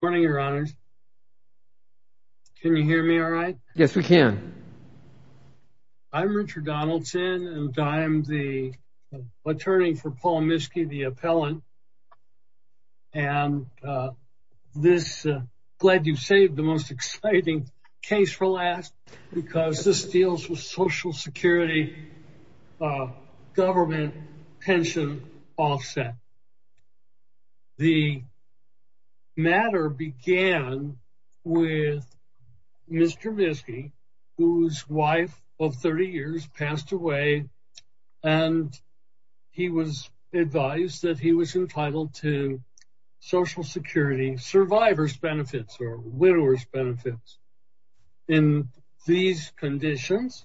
Good morning, your honors. Can you hear me all right? Yes, we can. I'm Richard Donaldson and I'm the attorney for Paul Miskey, the appellant. And this, glad you saved the most exciting case for last, because this deals with social security, government pension offset. The matter began with Mr. Miskey, whose wife of 30 years passed away. And he was advised that he was entitled to social security survivors benefits or widowers benefits. In these conditions,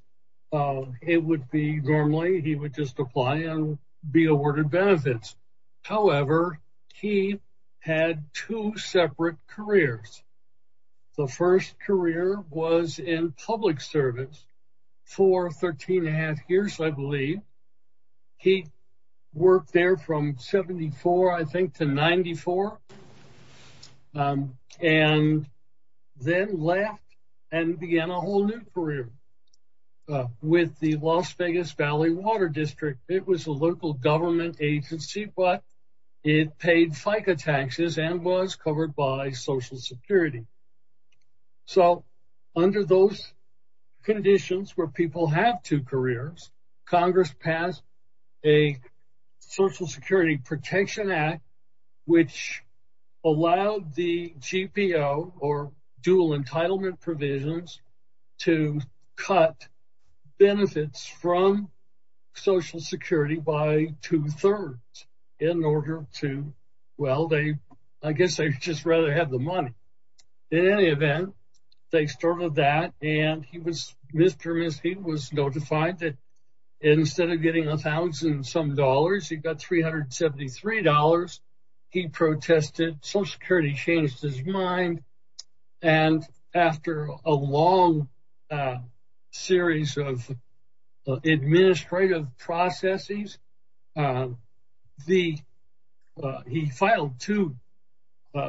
it would be normally he would just apply and be awarded benefits. However, he had two separate careers. The first career was in public service for 13 and a half years, I believe. He worked there from 74, I think to 94. And then left and began a whole new career with the Las Vegas Valley Water District. It was a local government agency, but it paid FICA taxes and was covered by social security. So under those conditions where people have two careers, Congress passed a Social Security Protection Act, which allowed the GPO or dual entitlement provisions to cut benefits from social security by two thirds in order to, well, they, I guess they just rather have the money. In any event, they started that and he was Mr. Miskey was notified that instead of getting a thousand some dollars, he got $373. He protested, social security changed his mind. And after a long series of administrative processes, he filed two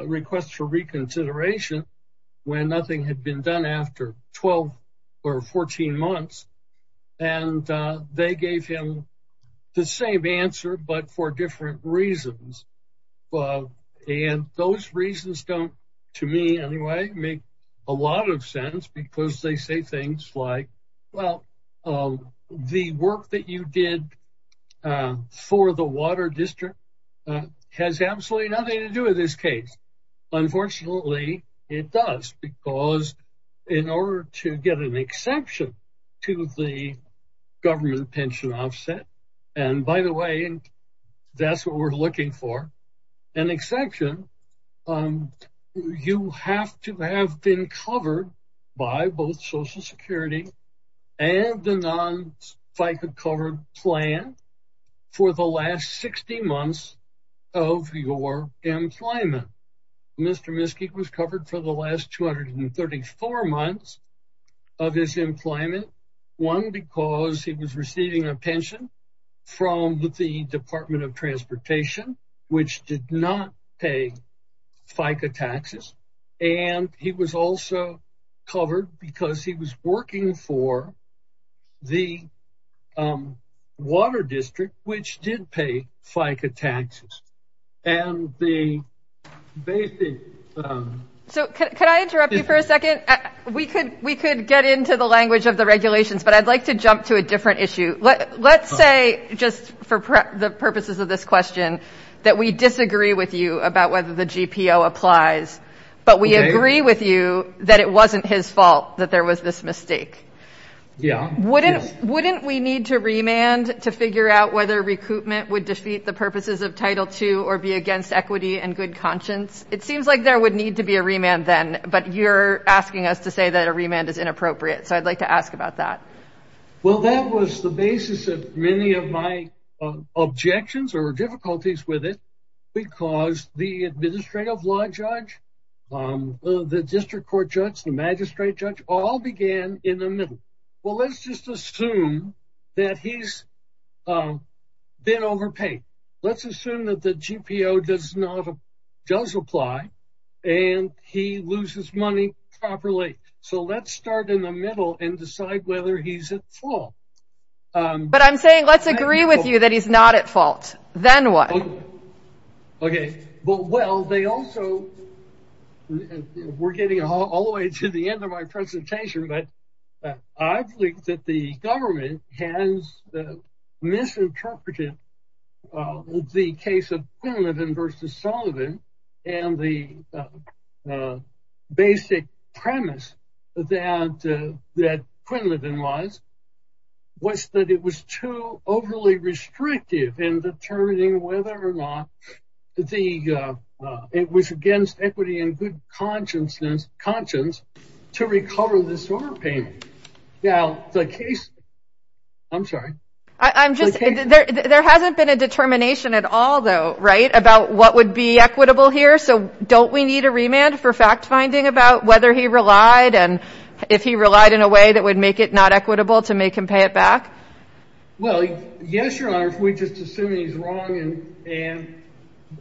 requests for reconsideration when nothing had been done after 12 or 14 months. And they gave him the same answer, but for different reasons. And those reasons don't, to me anyway, make a lot of sense because they say things like, well, the work that you did for the water district has absolutely nothing to do with this case. Unfortunately, it does because in order to get an exception to the government pension offset, and by the way, that's what we're looking for, an exception, you have to have been covered by both social security and the non-FICA covered plan for the last 60 months of your employment. Mr. Miskey was covered for the last 234 months of his employment, one because he was receiving a pension from the Department of Transportation, which did not pay FICA taxes. And he was also covered because he was working for the water district, which did pay FICA taxes. And the basic... So can I interrupt you for a second? We could get into the language of the Let's say, just for the purposes of this question, that we disagree with you about whether the GPO applies, but we agree with you that it wasn't his fault that there was this mistake. Wouldn't we need to remand to figure out whether recoupment would defeat the purposes of Title II or be against equity and good conscience? It seems like there would need to be a remand then, but you're asking us to say that a remand is inappropriate. So I'd like to ask about that. Well, that was the basis of many of my objections or difficulties with it, because the administrative law judge, the district court judge, the magistrate judge all began in the middle. Well, let's just assume that he's been overpaid. Let's assume that the GPO does apply and he loses money properly. So let's start in the middle and decide whether he's at fault. But I'm saying let's agree with you that he's not at fault. Then what? Okay. Well, they also... We're getting all the way to the end of my presentation, but I believe that the government has misinterpreted the case of Quinlivan versus Sullivan and the basic premise that Quinlivan was that it was too overly restrictive in determining whether or not it was against equity and good conscience to recover this overpayment. Now, the case... I'm sorry. I'm just... There hasn't been a determination at all, though, right, what would be equitable here. So don't we need a remand for fact-finding about whether he relied and if he relied in a way that would make it not equitable to make him pay it back? Well, yes, Your Honor. If we just assume he's wrong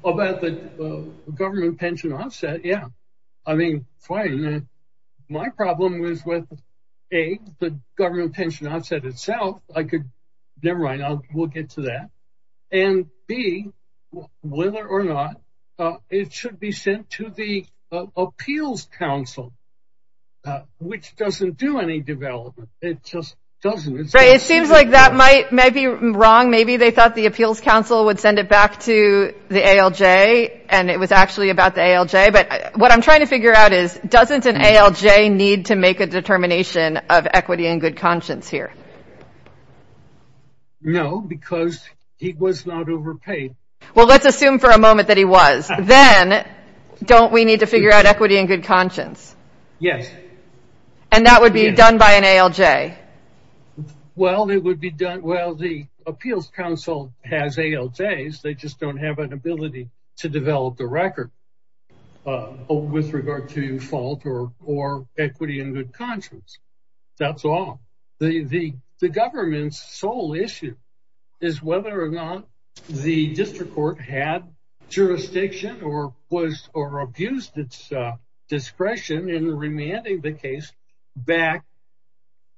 about the government pension offset, yeah. I mean, fine. My problem was with, A, the government pension offset itself. I could... It should be sent to the appeals council, which doesn't do any development. It just doesn't. Right. It seems like that might be wrong. Maybe they thought the appeals council would send it back to the ALJ and it was actually about the ALJ. But what I'm trying to figure out is, doesn't an ALJ need to make a determination of equity and good conscience here? No, because he was not overpaid. Well, let's assume for a moment that he was. Then, don't we need to figure out equity and good conscience? Yes. And that would be done by an ALJ? Well, it would be done... Well, the appeals council has ALJs. They just don't have an ability to develop the record with regard to fault or equity and good conscience. That's all. The government's sole issue is whether or not the district court had jurisdiction or abused its discretion in remanding the case back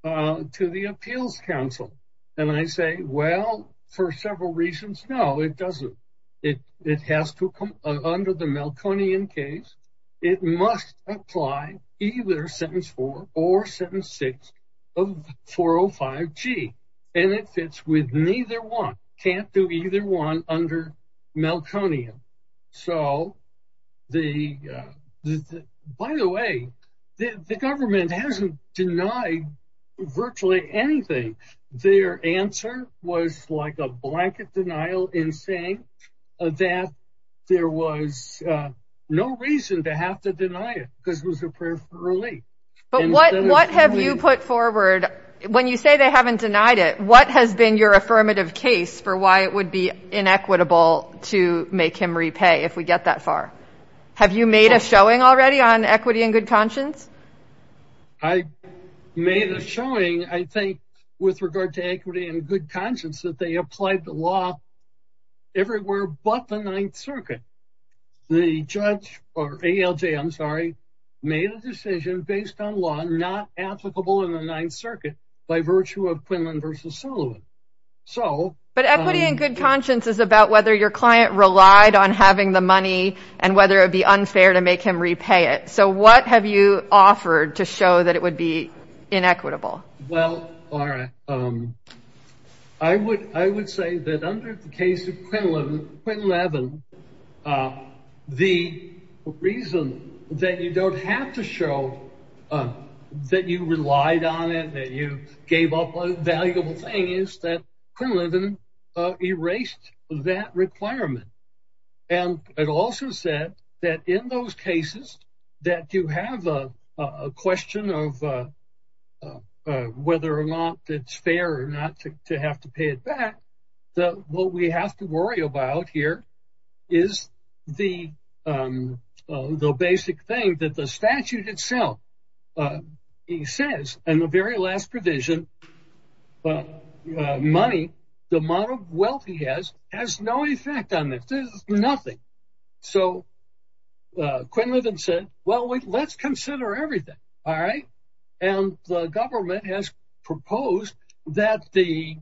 to the appeals council. And I say, well, for several reasons, no, it doesn't. It has to come under the Meltonian case. It must apply either sentence four or sentence six of 405 G and it fits with neither one. Can't do either one under Meltonian. So, by the way, the government hasn't denied virtually anything. Their answer was like a blanket denial in saying that there was no reason to have to deny it because it was a prayer for relief. But what have you put forward? When you say they haven't denied it, what has been your affirmative case for why it would be inequitable to make him repay if we get that far? Have you made a showing already on equity and good conscience? I made a showing, I think, with regard to equity and good conscience that they applied the law everywhere but the Ninth Circuit. But equity and good conscience is about whether your client relied on having the money and whether it would be unfair to make him repay it. So, what have you offered to show that it would be inequitable? Well, Laura, I would say that under the case of that you relied on it, that you gave up a valuable thing, is that Quinlivan erased that requirement. And it also said that in those cases that you have a question of whether or not it's fair or not to have to pay it back, that what we have to worry about here is the basic thing that the statute itself. He says in the very last provision, money, the amount of wealth he has, has no effect on this. This is nothing. So, Quinlivan said, well, let's consider everything, all right? And the government has proposed that the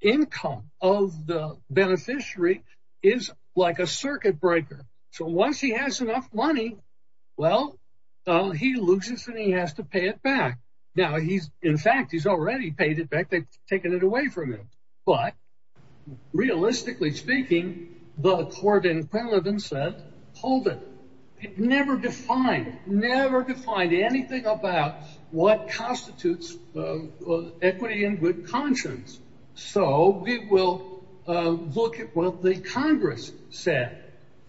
income of the beneficiary is like a circuit breaker. So, once he has enough money, well, he loses and he has to pay it back. Now, he's, in fact, he's already paid it back, they've taken it away from him. But realistically speaking, the court in Quinlivan said, hold it. It never defined, never defined anything about what constitutes equity and good conscience. So, we will look at what the Congress said.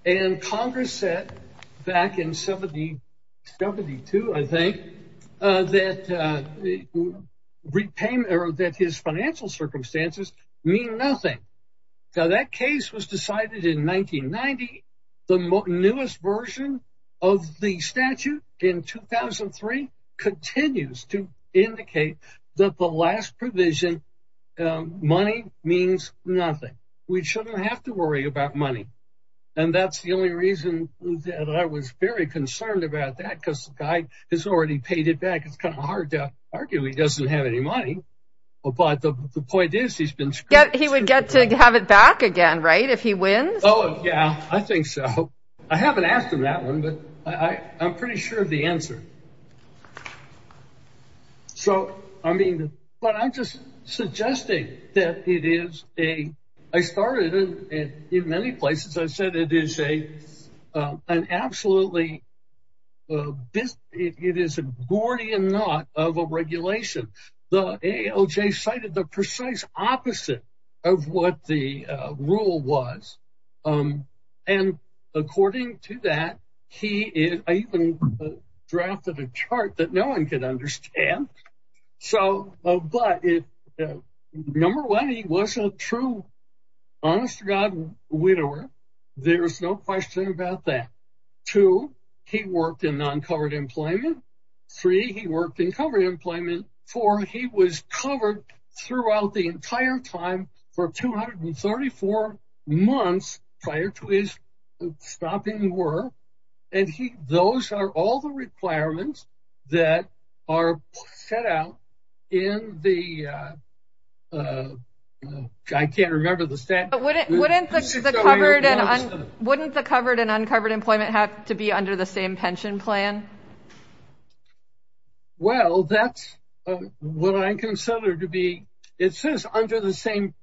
And Congress said, back in 72, I think, that his financial circumstances mean nothing. Now, that case was decided in 1990. The newest version of the statute in 2003 continues to indicate that the last provision, money, means nothing. We shouldn't have to worry about money. And that's the only reason that I was very concerned about that, because the guy has already paid it back. It's kind of hard to argue he doesn't have any money. But the point is, he's been screwed. He would get to have it back again, right? If he wins? Oh, yeah, I think so. I haven't asked him that one, but I'm pretty sure of the answer. So, I mean, but I'm just suggesting that it is a, I started in many places, I said it is a, an absolutely, it is a Gordian knot of a regulation. The AOJ cited the precise opposite of what the rule was. And according to that, he even drafted a chart that no one could understand. So, but number one, he was a true, honest to God, widower. There's no question about that. Two, he worked in non-covered employment. Three, he worked in covered employment. Four, he was covered throughout the entire time for 234 months prior to his stopping work. And he, those are all the requirements that are set out in the, I can't remember the stat. But wouldn't the covered and uncovered employment have to be under the same pension plan? Well, that's what I consider to be, it says under the same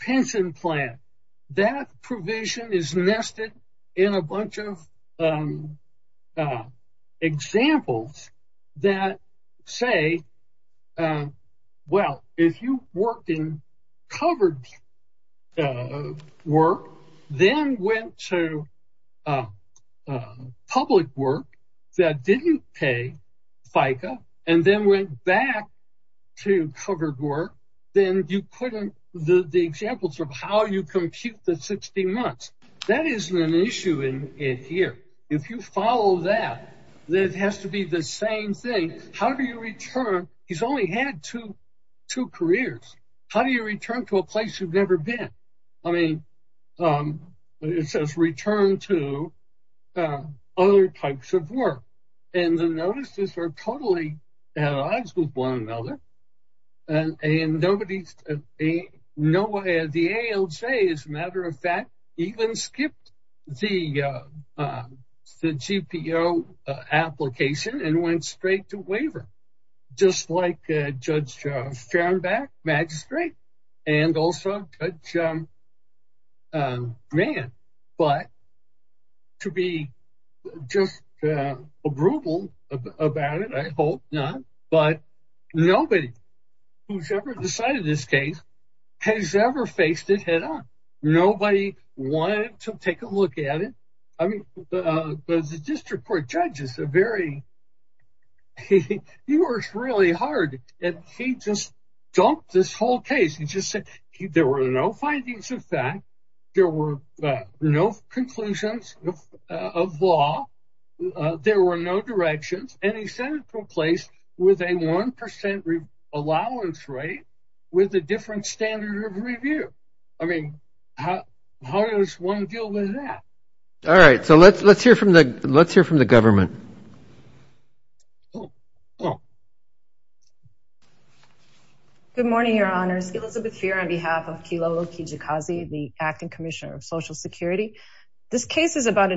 pension plan. That provision is nested in a bunch of examples that say, well, if you worked in covered work, then went to public work that didn't pay FICA, and then went back to covered work, then you couldn't, the examples of how you compute the 60 months, that isn't an issue in here. If you follow that, that has to be the same thing. How do you return? He's only had two careers. How do you return to a place you've never been? I mean, it says return to other types of work. And the notices are totally at odds with one another. And the ALJ, as a matter of fact, even skipped the GPO application and went straight to waiver, just like Judge Farnback, Magistrate, and also Judge Holt. But nobody who's ever decided this case has ever faced it head on. Nobody wanted to take a look at it. I mean, the district court judges are very, he works really hard. And he just dumped this whole case. He just said, there were no findings of fact, there were no conclusions of law, there were no directions, and he sent it from place with a 1% allowance rate, with a different standard of review. I mean, how does one deal with that? All right, so let's hear from the government. Good morning, your honors. Elizabeth here on behalf of Kilo Kijikazi, the acting commissioner of Social Security. This case is about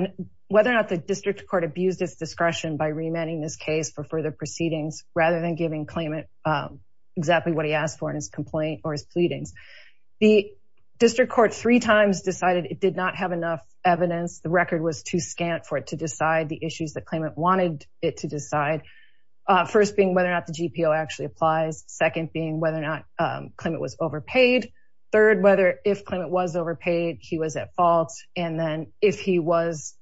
whether or not the district court abused its discretion by remanding this case for further proceedings, rather than giving claimant exactly what he asked for in his complaint or his pleadings. The district court three times decided it did not have enough evidence. The record was too scant for it to decide the issues that claimant wanted it to decide. First being whether or not the GPO actually applies. Second being whether or not claimant was overpaid. Third, whether if claimant was overpaid, he was at fault. And then if he was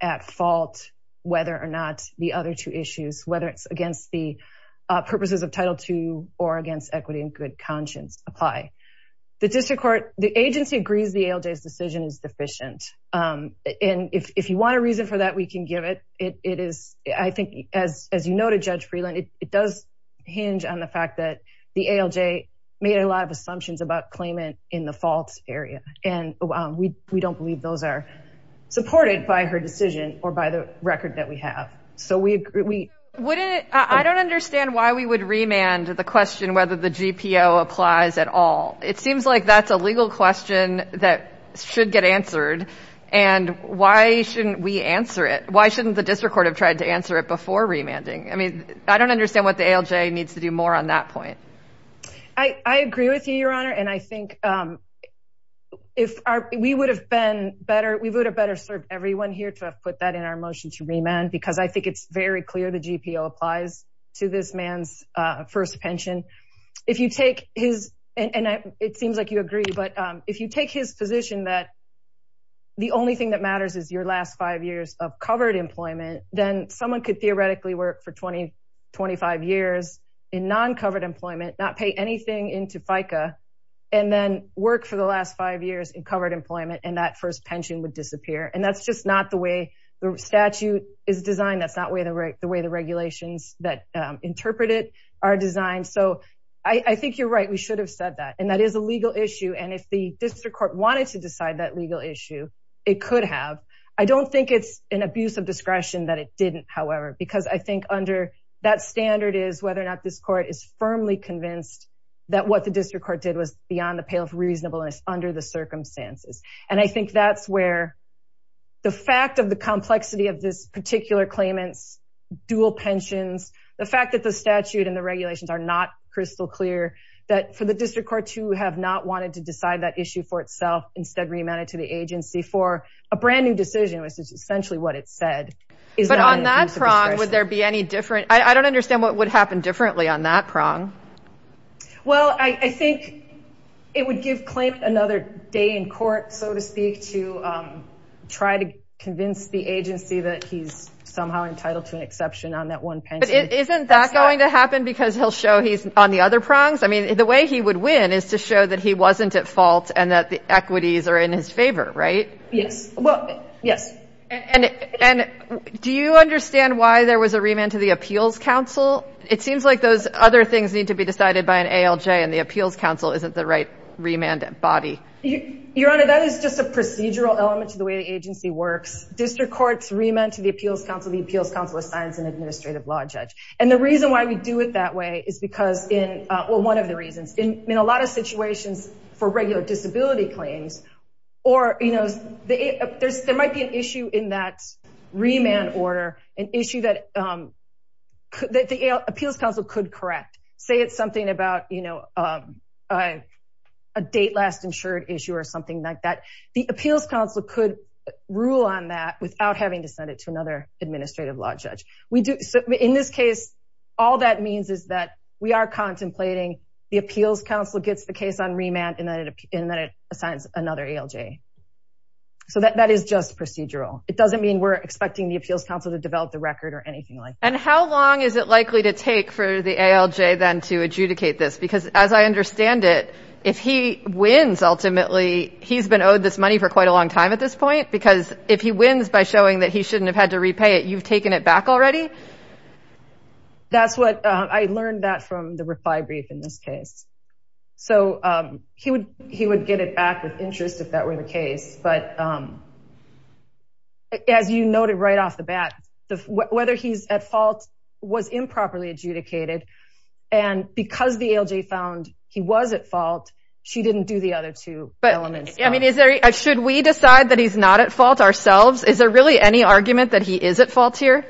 at fault, whether or not the other two issues, whether it's against the purposes of Title II or against equity and good conscience apply. The district court, the agency agrees the ALJ's decision is deficient. And if you want a reason for that, we can give it. It is, I think, as you know, to Judge Freeland, it does hinge on the fact that the ALJ made a lot of assumptions about claimant in the faults area. And we don't believe those are supported by her decision or by the record that we have. So we agree. I don't understand why we would remand the question whether the GPO applies at all. It seems like that's a legal question that should get answered. And why shouldn't we answer it? Why shouldn't the district court have tried to answer it before remanding? I mean, I don't understand what the ALJ needs to do more on that point. I agree with you, Your Honor. And I think if we would have been better, we would have better served everyone here to have put that in our motion to remand, because I think it's very clear the GPO applies to this man's first pension. If you take his, and it seems like you agree, but if you take his position that the only thing that matters is your last five years of covered employment, then someone could theoretically work for 20, 25 years in non-covered employment, not pay anything into FICA, and then work for the last five years in covered employment and that first pension would disappear. And that's just not the way the statute is designed. That's not the way the regulations that interpret it are designed. So I think you're right. We should have said that. And that is a legal issue. And if the district court wanted to decide that legal issue, it could have. I don't think it's an abuse of discretion that it didn't, however, because I think under that standard is whether or not this court is firmly convinced that what the district court did was beyond the pale of reasonableness under the circumstances. And I think that's where the fact of the complexity of this particular claimant's dual pensions, the fact that the statute and the regulations are not crystal clear, that for the district court to have not wanted to for a brand new decision, which is essentially what it said. But on that prong, would there be any different? I don't understand what would happen differently on that prong. Well, I think it would give claimant another day in court, so to speak, to try to convince the agency that he's somehow entitled to an exception on that one pension. But isn't that going to happen because he'll show he's on the other prongs? I mean, the way he would win is to show that he wasn't at fault and that the equities are in his favor, right? Yes. Well, yes. And do you understand why there was a remand to the appeals council? It seems like those other things need to be decided by an ALJ and the appeals council isn't the right remand body. Your Honor, that is just a procedural element to the way the agency works. District courts remand to the appeals council. The appeals council assigns an administrative law judge. And the reason why we do it that way is because in one of the reasons in a lot of situations for regular disability claims, or there might be an issue in that remand order, an issue that the appeals council could correct. Say it's something about a date last insured issue or something like that. The appeals council could rule on that without having to send it to administrative law judge. So in this case, all that means is that we are contemplating the appeals council gets the case on remand and then it assigns another ALJ. So that is just procedural. It doesn't mean we're expecting the appeals council to develop the record or anything like that. And how long is it likely to take for the ALJ then to adjudicate this? Because as I understand it, if he wins, ultimately he's been owed this money for quite a long time at this point. Because if he wins by showing that he shouldn't have had to repay it, you've taken it back already. That's what I learned that from the reply brief in this case. So he would get it back with interest if that were the case. But as you noted right off the bat, whether he's at fault was improperly adjudicated. And because the ALJ found he was at fault, she didn't do the other two elements. But should we decide that he's not at fault ourselves? Is there really any argument that he is at fault here?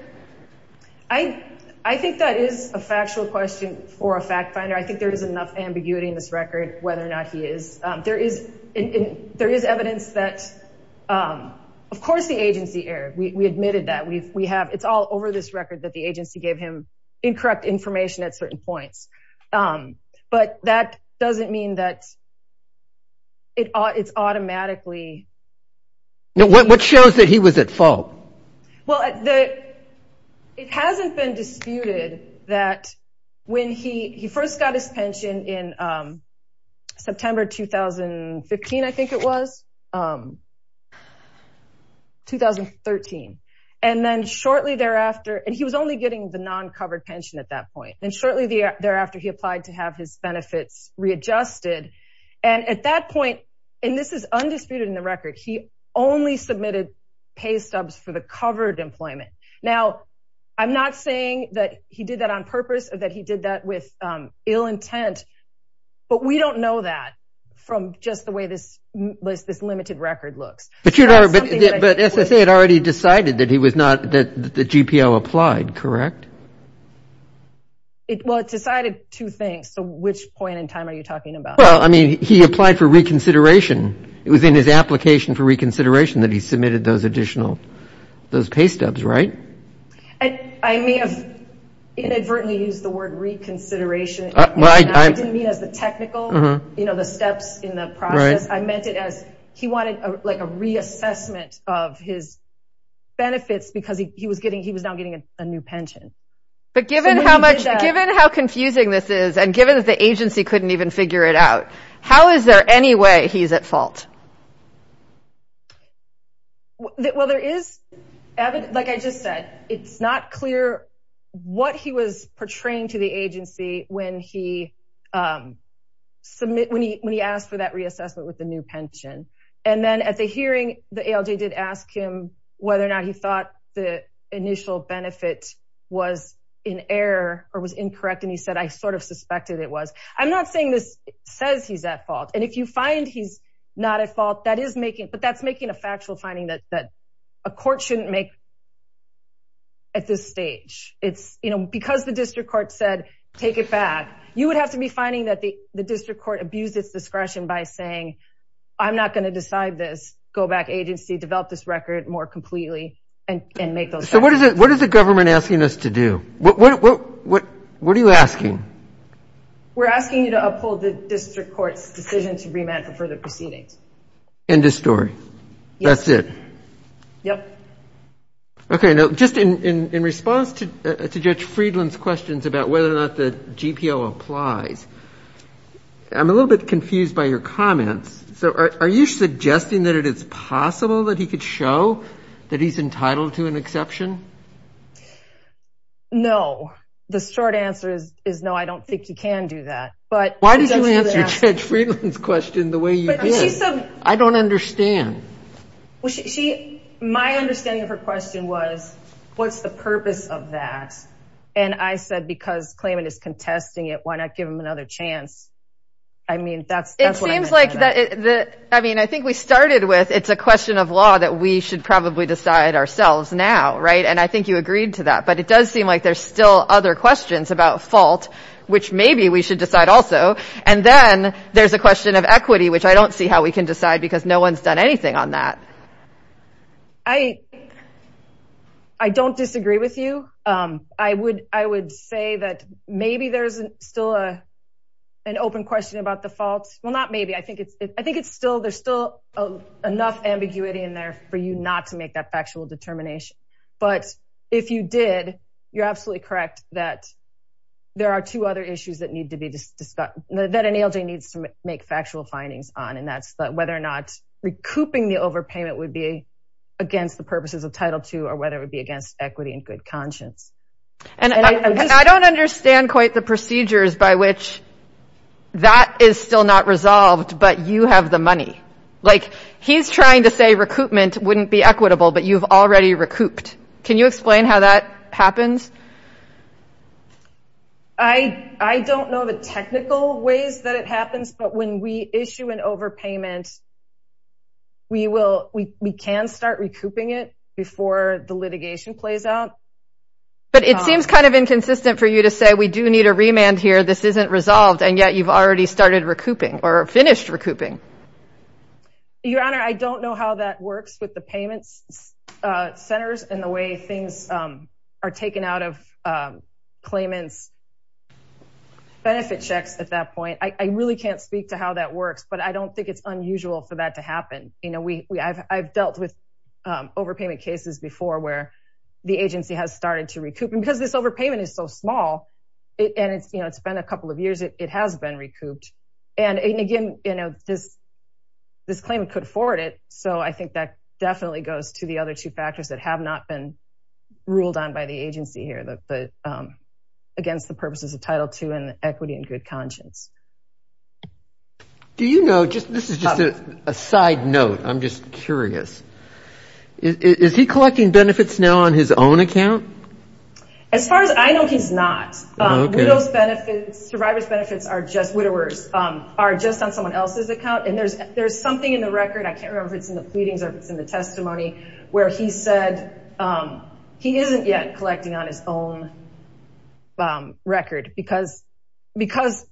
I think that is a factual question for a fact finder. I think there is enough ambiguity in this record whether or not he is. There is evidence that of course the agency erred. We admitted that. It's all over this record that the agency gave him incorrect information at certain points. But that doesn't mean that it's automatically. What shows that he was at fault? Well, it hasn't been disputed that when he first got his pension in September 2015, I think it was, 2013. And then shortly thereafter, and he was only getting the non-covered pension at that point. And shortly thereafter, he applied to have his benefits readjusted. And at that point, and this is undisputed in the record, he only submitted pay stubs for the covered employment. Now, I'm not saying that he did that on purpose or that he did that with ill intent. But we don't know that from just the way this limited record looks. But SSA had already decided that he was not the GPO applied, correct? Well, it decided two things. So which point in time are you talking about? Well, I mean, he applied for reconsideration. It was in his application for reconsideration that he submitted those additional pay stubs, right? I may have inadvertently used the word reconsideration. I didn't mean as the technical, you know, the steps in the process. He wanted like a reassessment of his benefits because he was now getting a new pension. But given how confusing this is, and given that the agency couldn't even figure it out, how is there any way he's at fault? Well, like I just said, it's not clear what he was portraying to the agency when he asked for that reassessment with the new pension. And then at the hearing, the ALJ did ask him whether or not he thought the initial benefit was in error or was incorrect. And he said, I sort of suspected it was. I'm not saying this says he's at fault. And if you find he's not at fault, that is making, but that's making a factual finding that a court shouldn't make at this stage. It's, you know, because the district court said, take it back, you would have to be finding that the district court abused its discretion by saying, I'm not going to decide this, go back agency, develop this record more completely and make those. So what is it? What is the government asking us to do? What are you asking? We're asking you to uphold the district court's decision to remand for further proceedings. End of story. That's it. Yep. Okay. Now, just in response to Judge Friedland's questions about whether or not the GPO applies, I'm a little bit confused by your comments. So are you suggesting that it is possible that he could show that he's entitled to an exception? No, the short answer is no, I don't think you can do that. But why did you answer Judge Friedland's question the way you did? I don't understand. My understanding of her question was, what's the purpose of that? And I said, because Klayman is contesting it, why not give him another chance? I mean, that's... It seems like that. I mean, I think we started with, it's a question of law that we should probably decide ourselves now, right? And I think you agreed to that. But it does seem like there's still other questions about fault, which maybe we should decide also. And then there's a question of equity, which I don't see how we can decide because no one's done anything on that. I don't disagree with you. I would say that maybe there's still an open question about the fault. Well, not maybe, I think there's still enough ambiguity in there for you not to make that factual determination. But if you did, you're absolutely correct that there are two other issues that need to be discussed, that an ALJ needs to make factual findings on. And that's whether or not recouping the overpayment would be against the purposes of Title II, or whether it would be against equity and good conscience. And I don't understand quite the procedures by which that is still not resolved, but you have the money. Like, he's trying to say recoupment wouldn't be equitable, but you've already recouped. Can you explain how that happens? I don't know the technical ways that it happens, but when we issue an overpayment, we can start recouping it before the litigation plays out. But it seems kind of inconsistent for you to say, we do need a remand here, this isn't resolved, and yet you've already started recouping or finished recouping. Your Honor, I don't know how that works with the payment centers and the way things are taken out of claimants' benefit checks at that point. I really can't speak to how that works, but I don't think it's unusual for that to happen. I've dealt with overpayment cases before where the agency has started to recoup. And because this overpayment is so small, and it's been a couple of years, it has been recouped. And again, this claimant could afford so I think that definitely goes to the other two factors that have not been ruled on by the agency here, against the purposes of Title II and equity and good conscience. This is just a side note, I'm just curious. Is he collecting benefits now on his own account? As far as I know, he's not. Survivor's benefits are just on someone else's account. And there's something in the record, I can't remember if it's in the pleadings or if it's in the testimony, where he said he isn't yet collecting on his own record because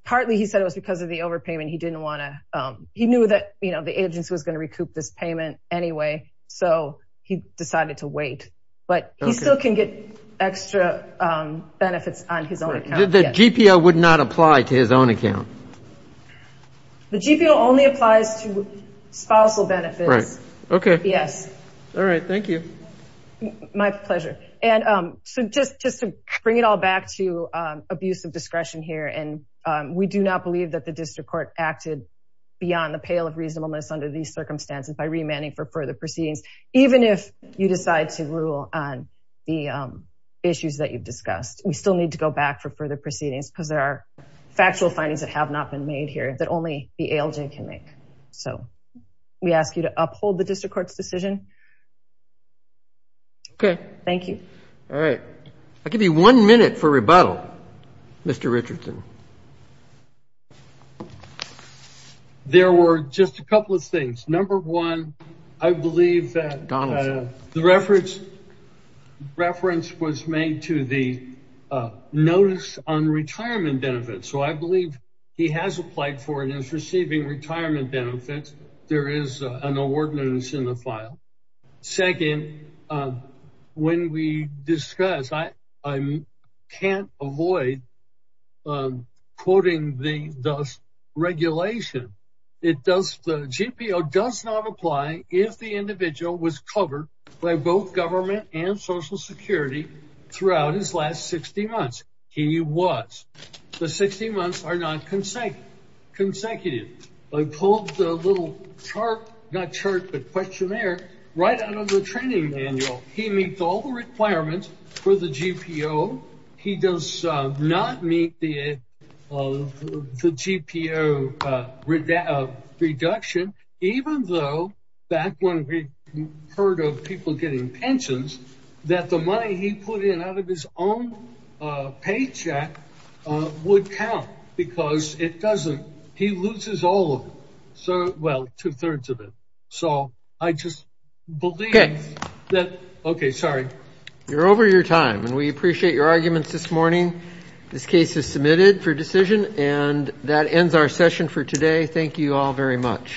partly he said it was because of the overpayment. He knew that the agency was going to recoup this payment anyway, so he decided to wait. But he still can get extra benefits on his own account. The GPO would not apply to his own account? The GPO only applies to spousal benefits. Right. Okay. Yes. All right. Thank you. My pleasure. And so just to bring it all back to abuse of discretion here, and we do not believe that the district court acted beyond the pale of reasonableness under these circumstances by remanding for further proceedings, even if you decide to rule on the issues that you've discussed. We still need to go back for further proceedings because there are some decisions that have not been made here that only the ALJ can make. So we ask you to uphold the district court's decision. Okay. Thank you. All right. I'll give you one minute for rebuttal, Mr. Richardson. There were just a couple of things. Number one, I believe that the reference was made to the notice on retirement benefits. So I believe he has applied for and is receiving retirement benefits. There is an award notice in the file. Second, when we discuss, I can't avoid quoting the regulation. The GPO does not apply if the individual was covered by both government and social security throughout his last 60 months. He was. The 60 months are not consecutive. I pulled the little chart, not chart, but questionnaire right out of the training manual. He meets all the requirements for the GPO. He does not meet the GPO reduction, even though back when we heard of people getting pensions, that the money he put in out of his own paycheck would count because it doesn't. He loses all of it. So, well, two-thirds of it. So I just believe that. Okay. Sorry. You're over your time and we appreciate your arguments this morning. This case is submitted for decision and that ends our session for today. Thank you all very much.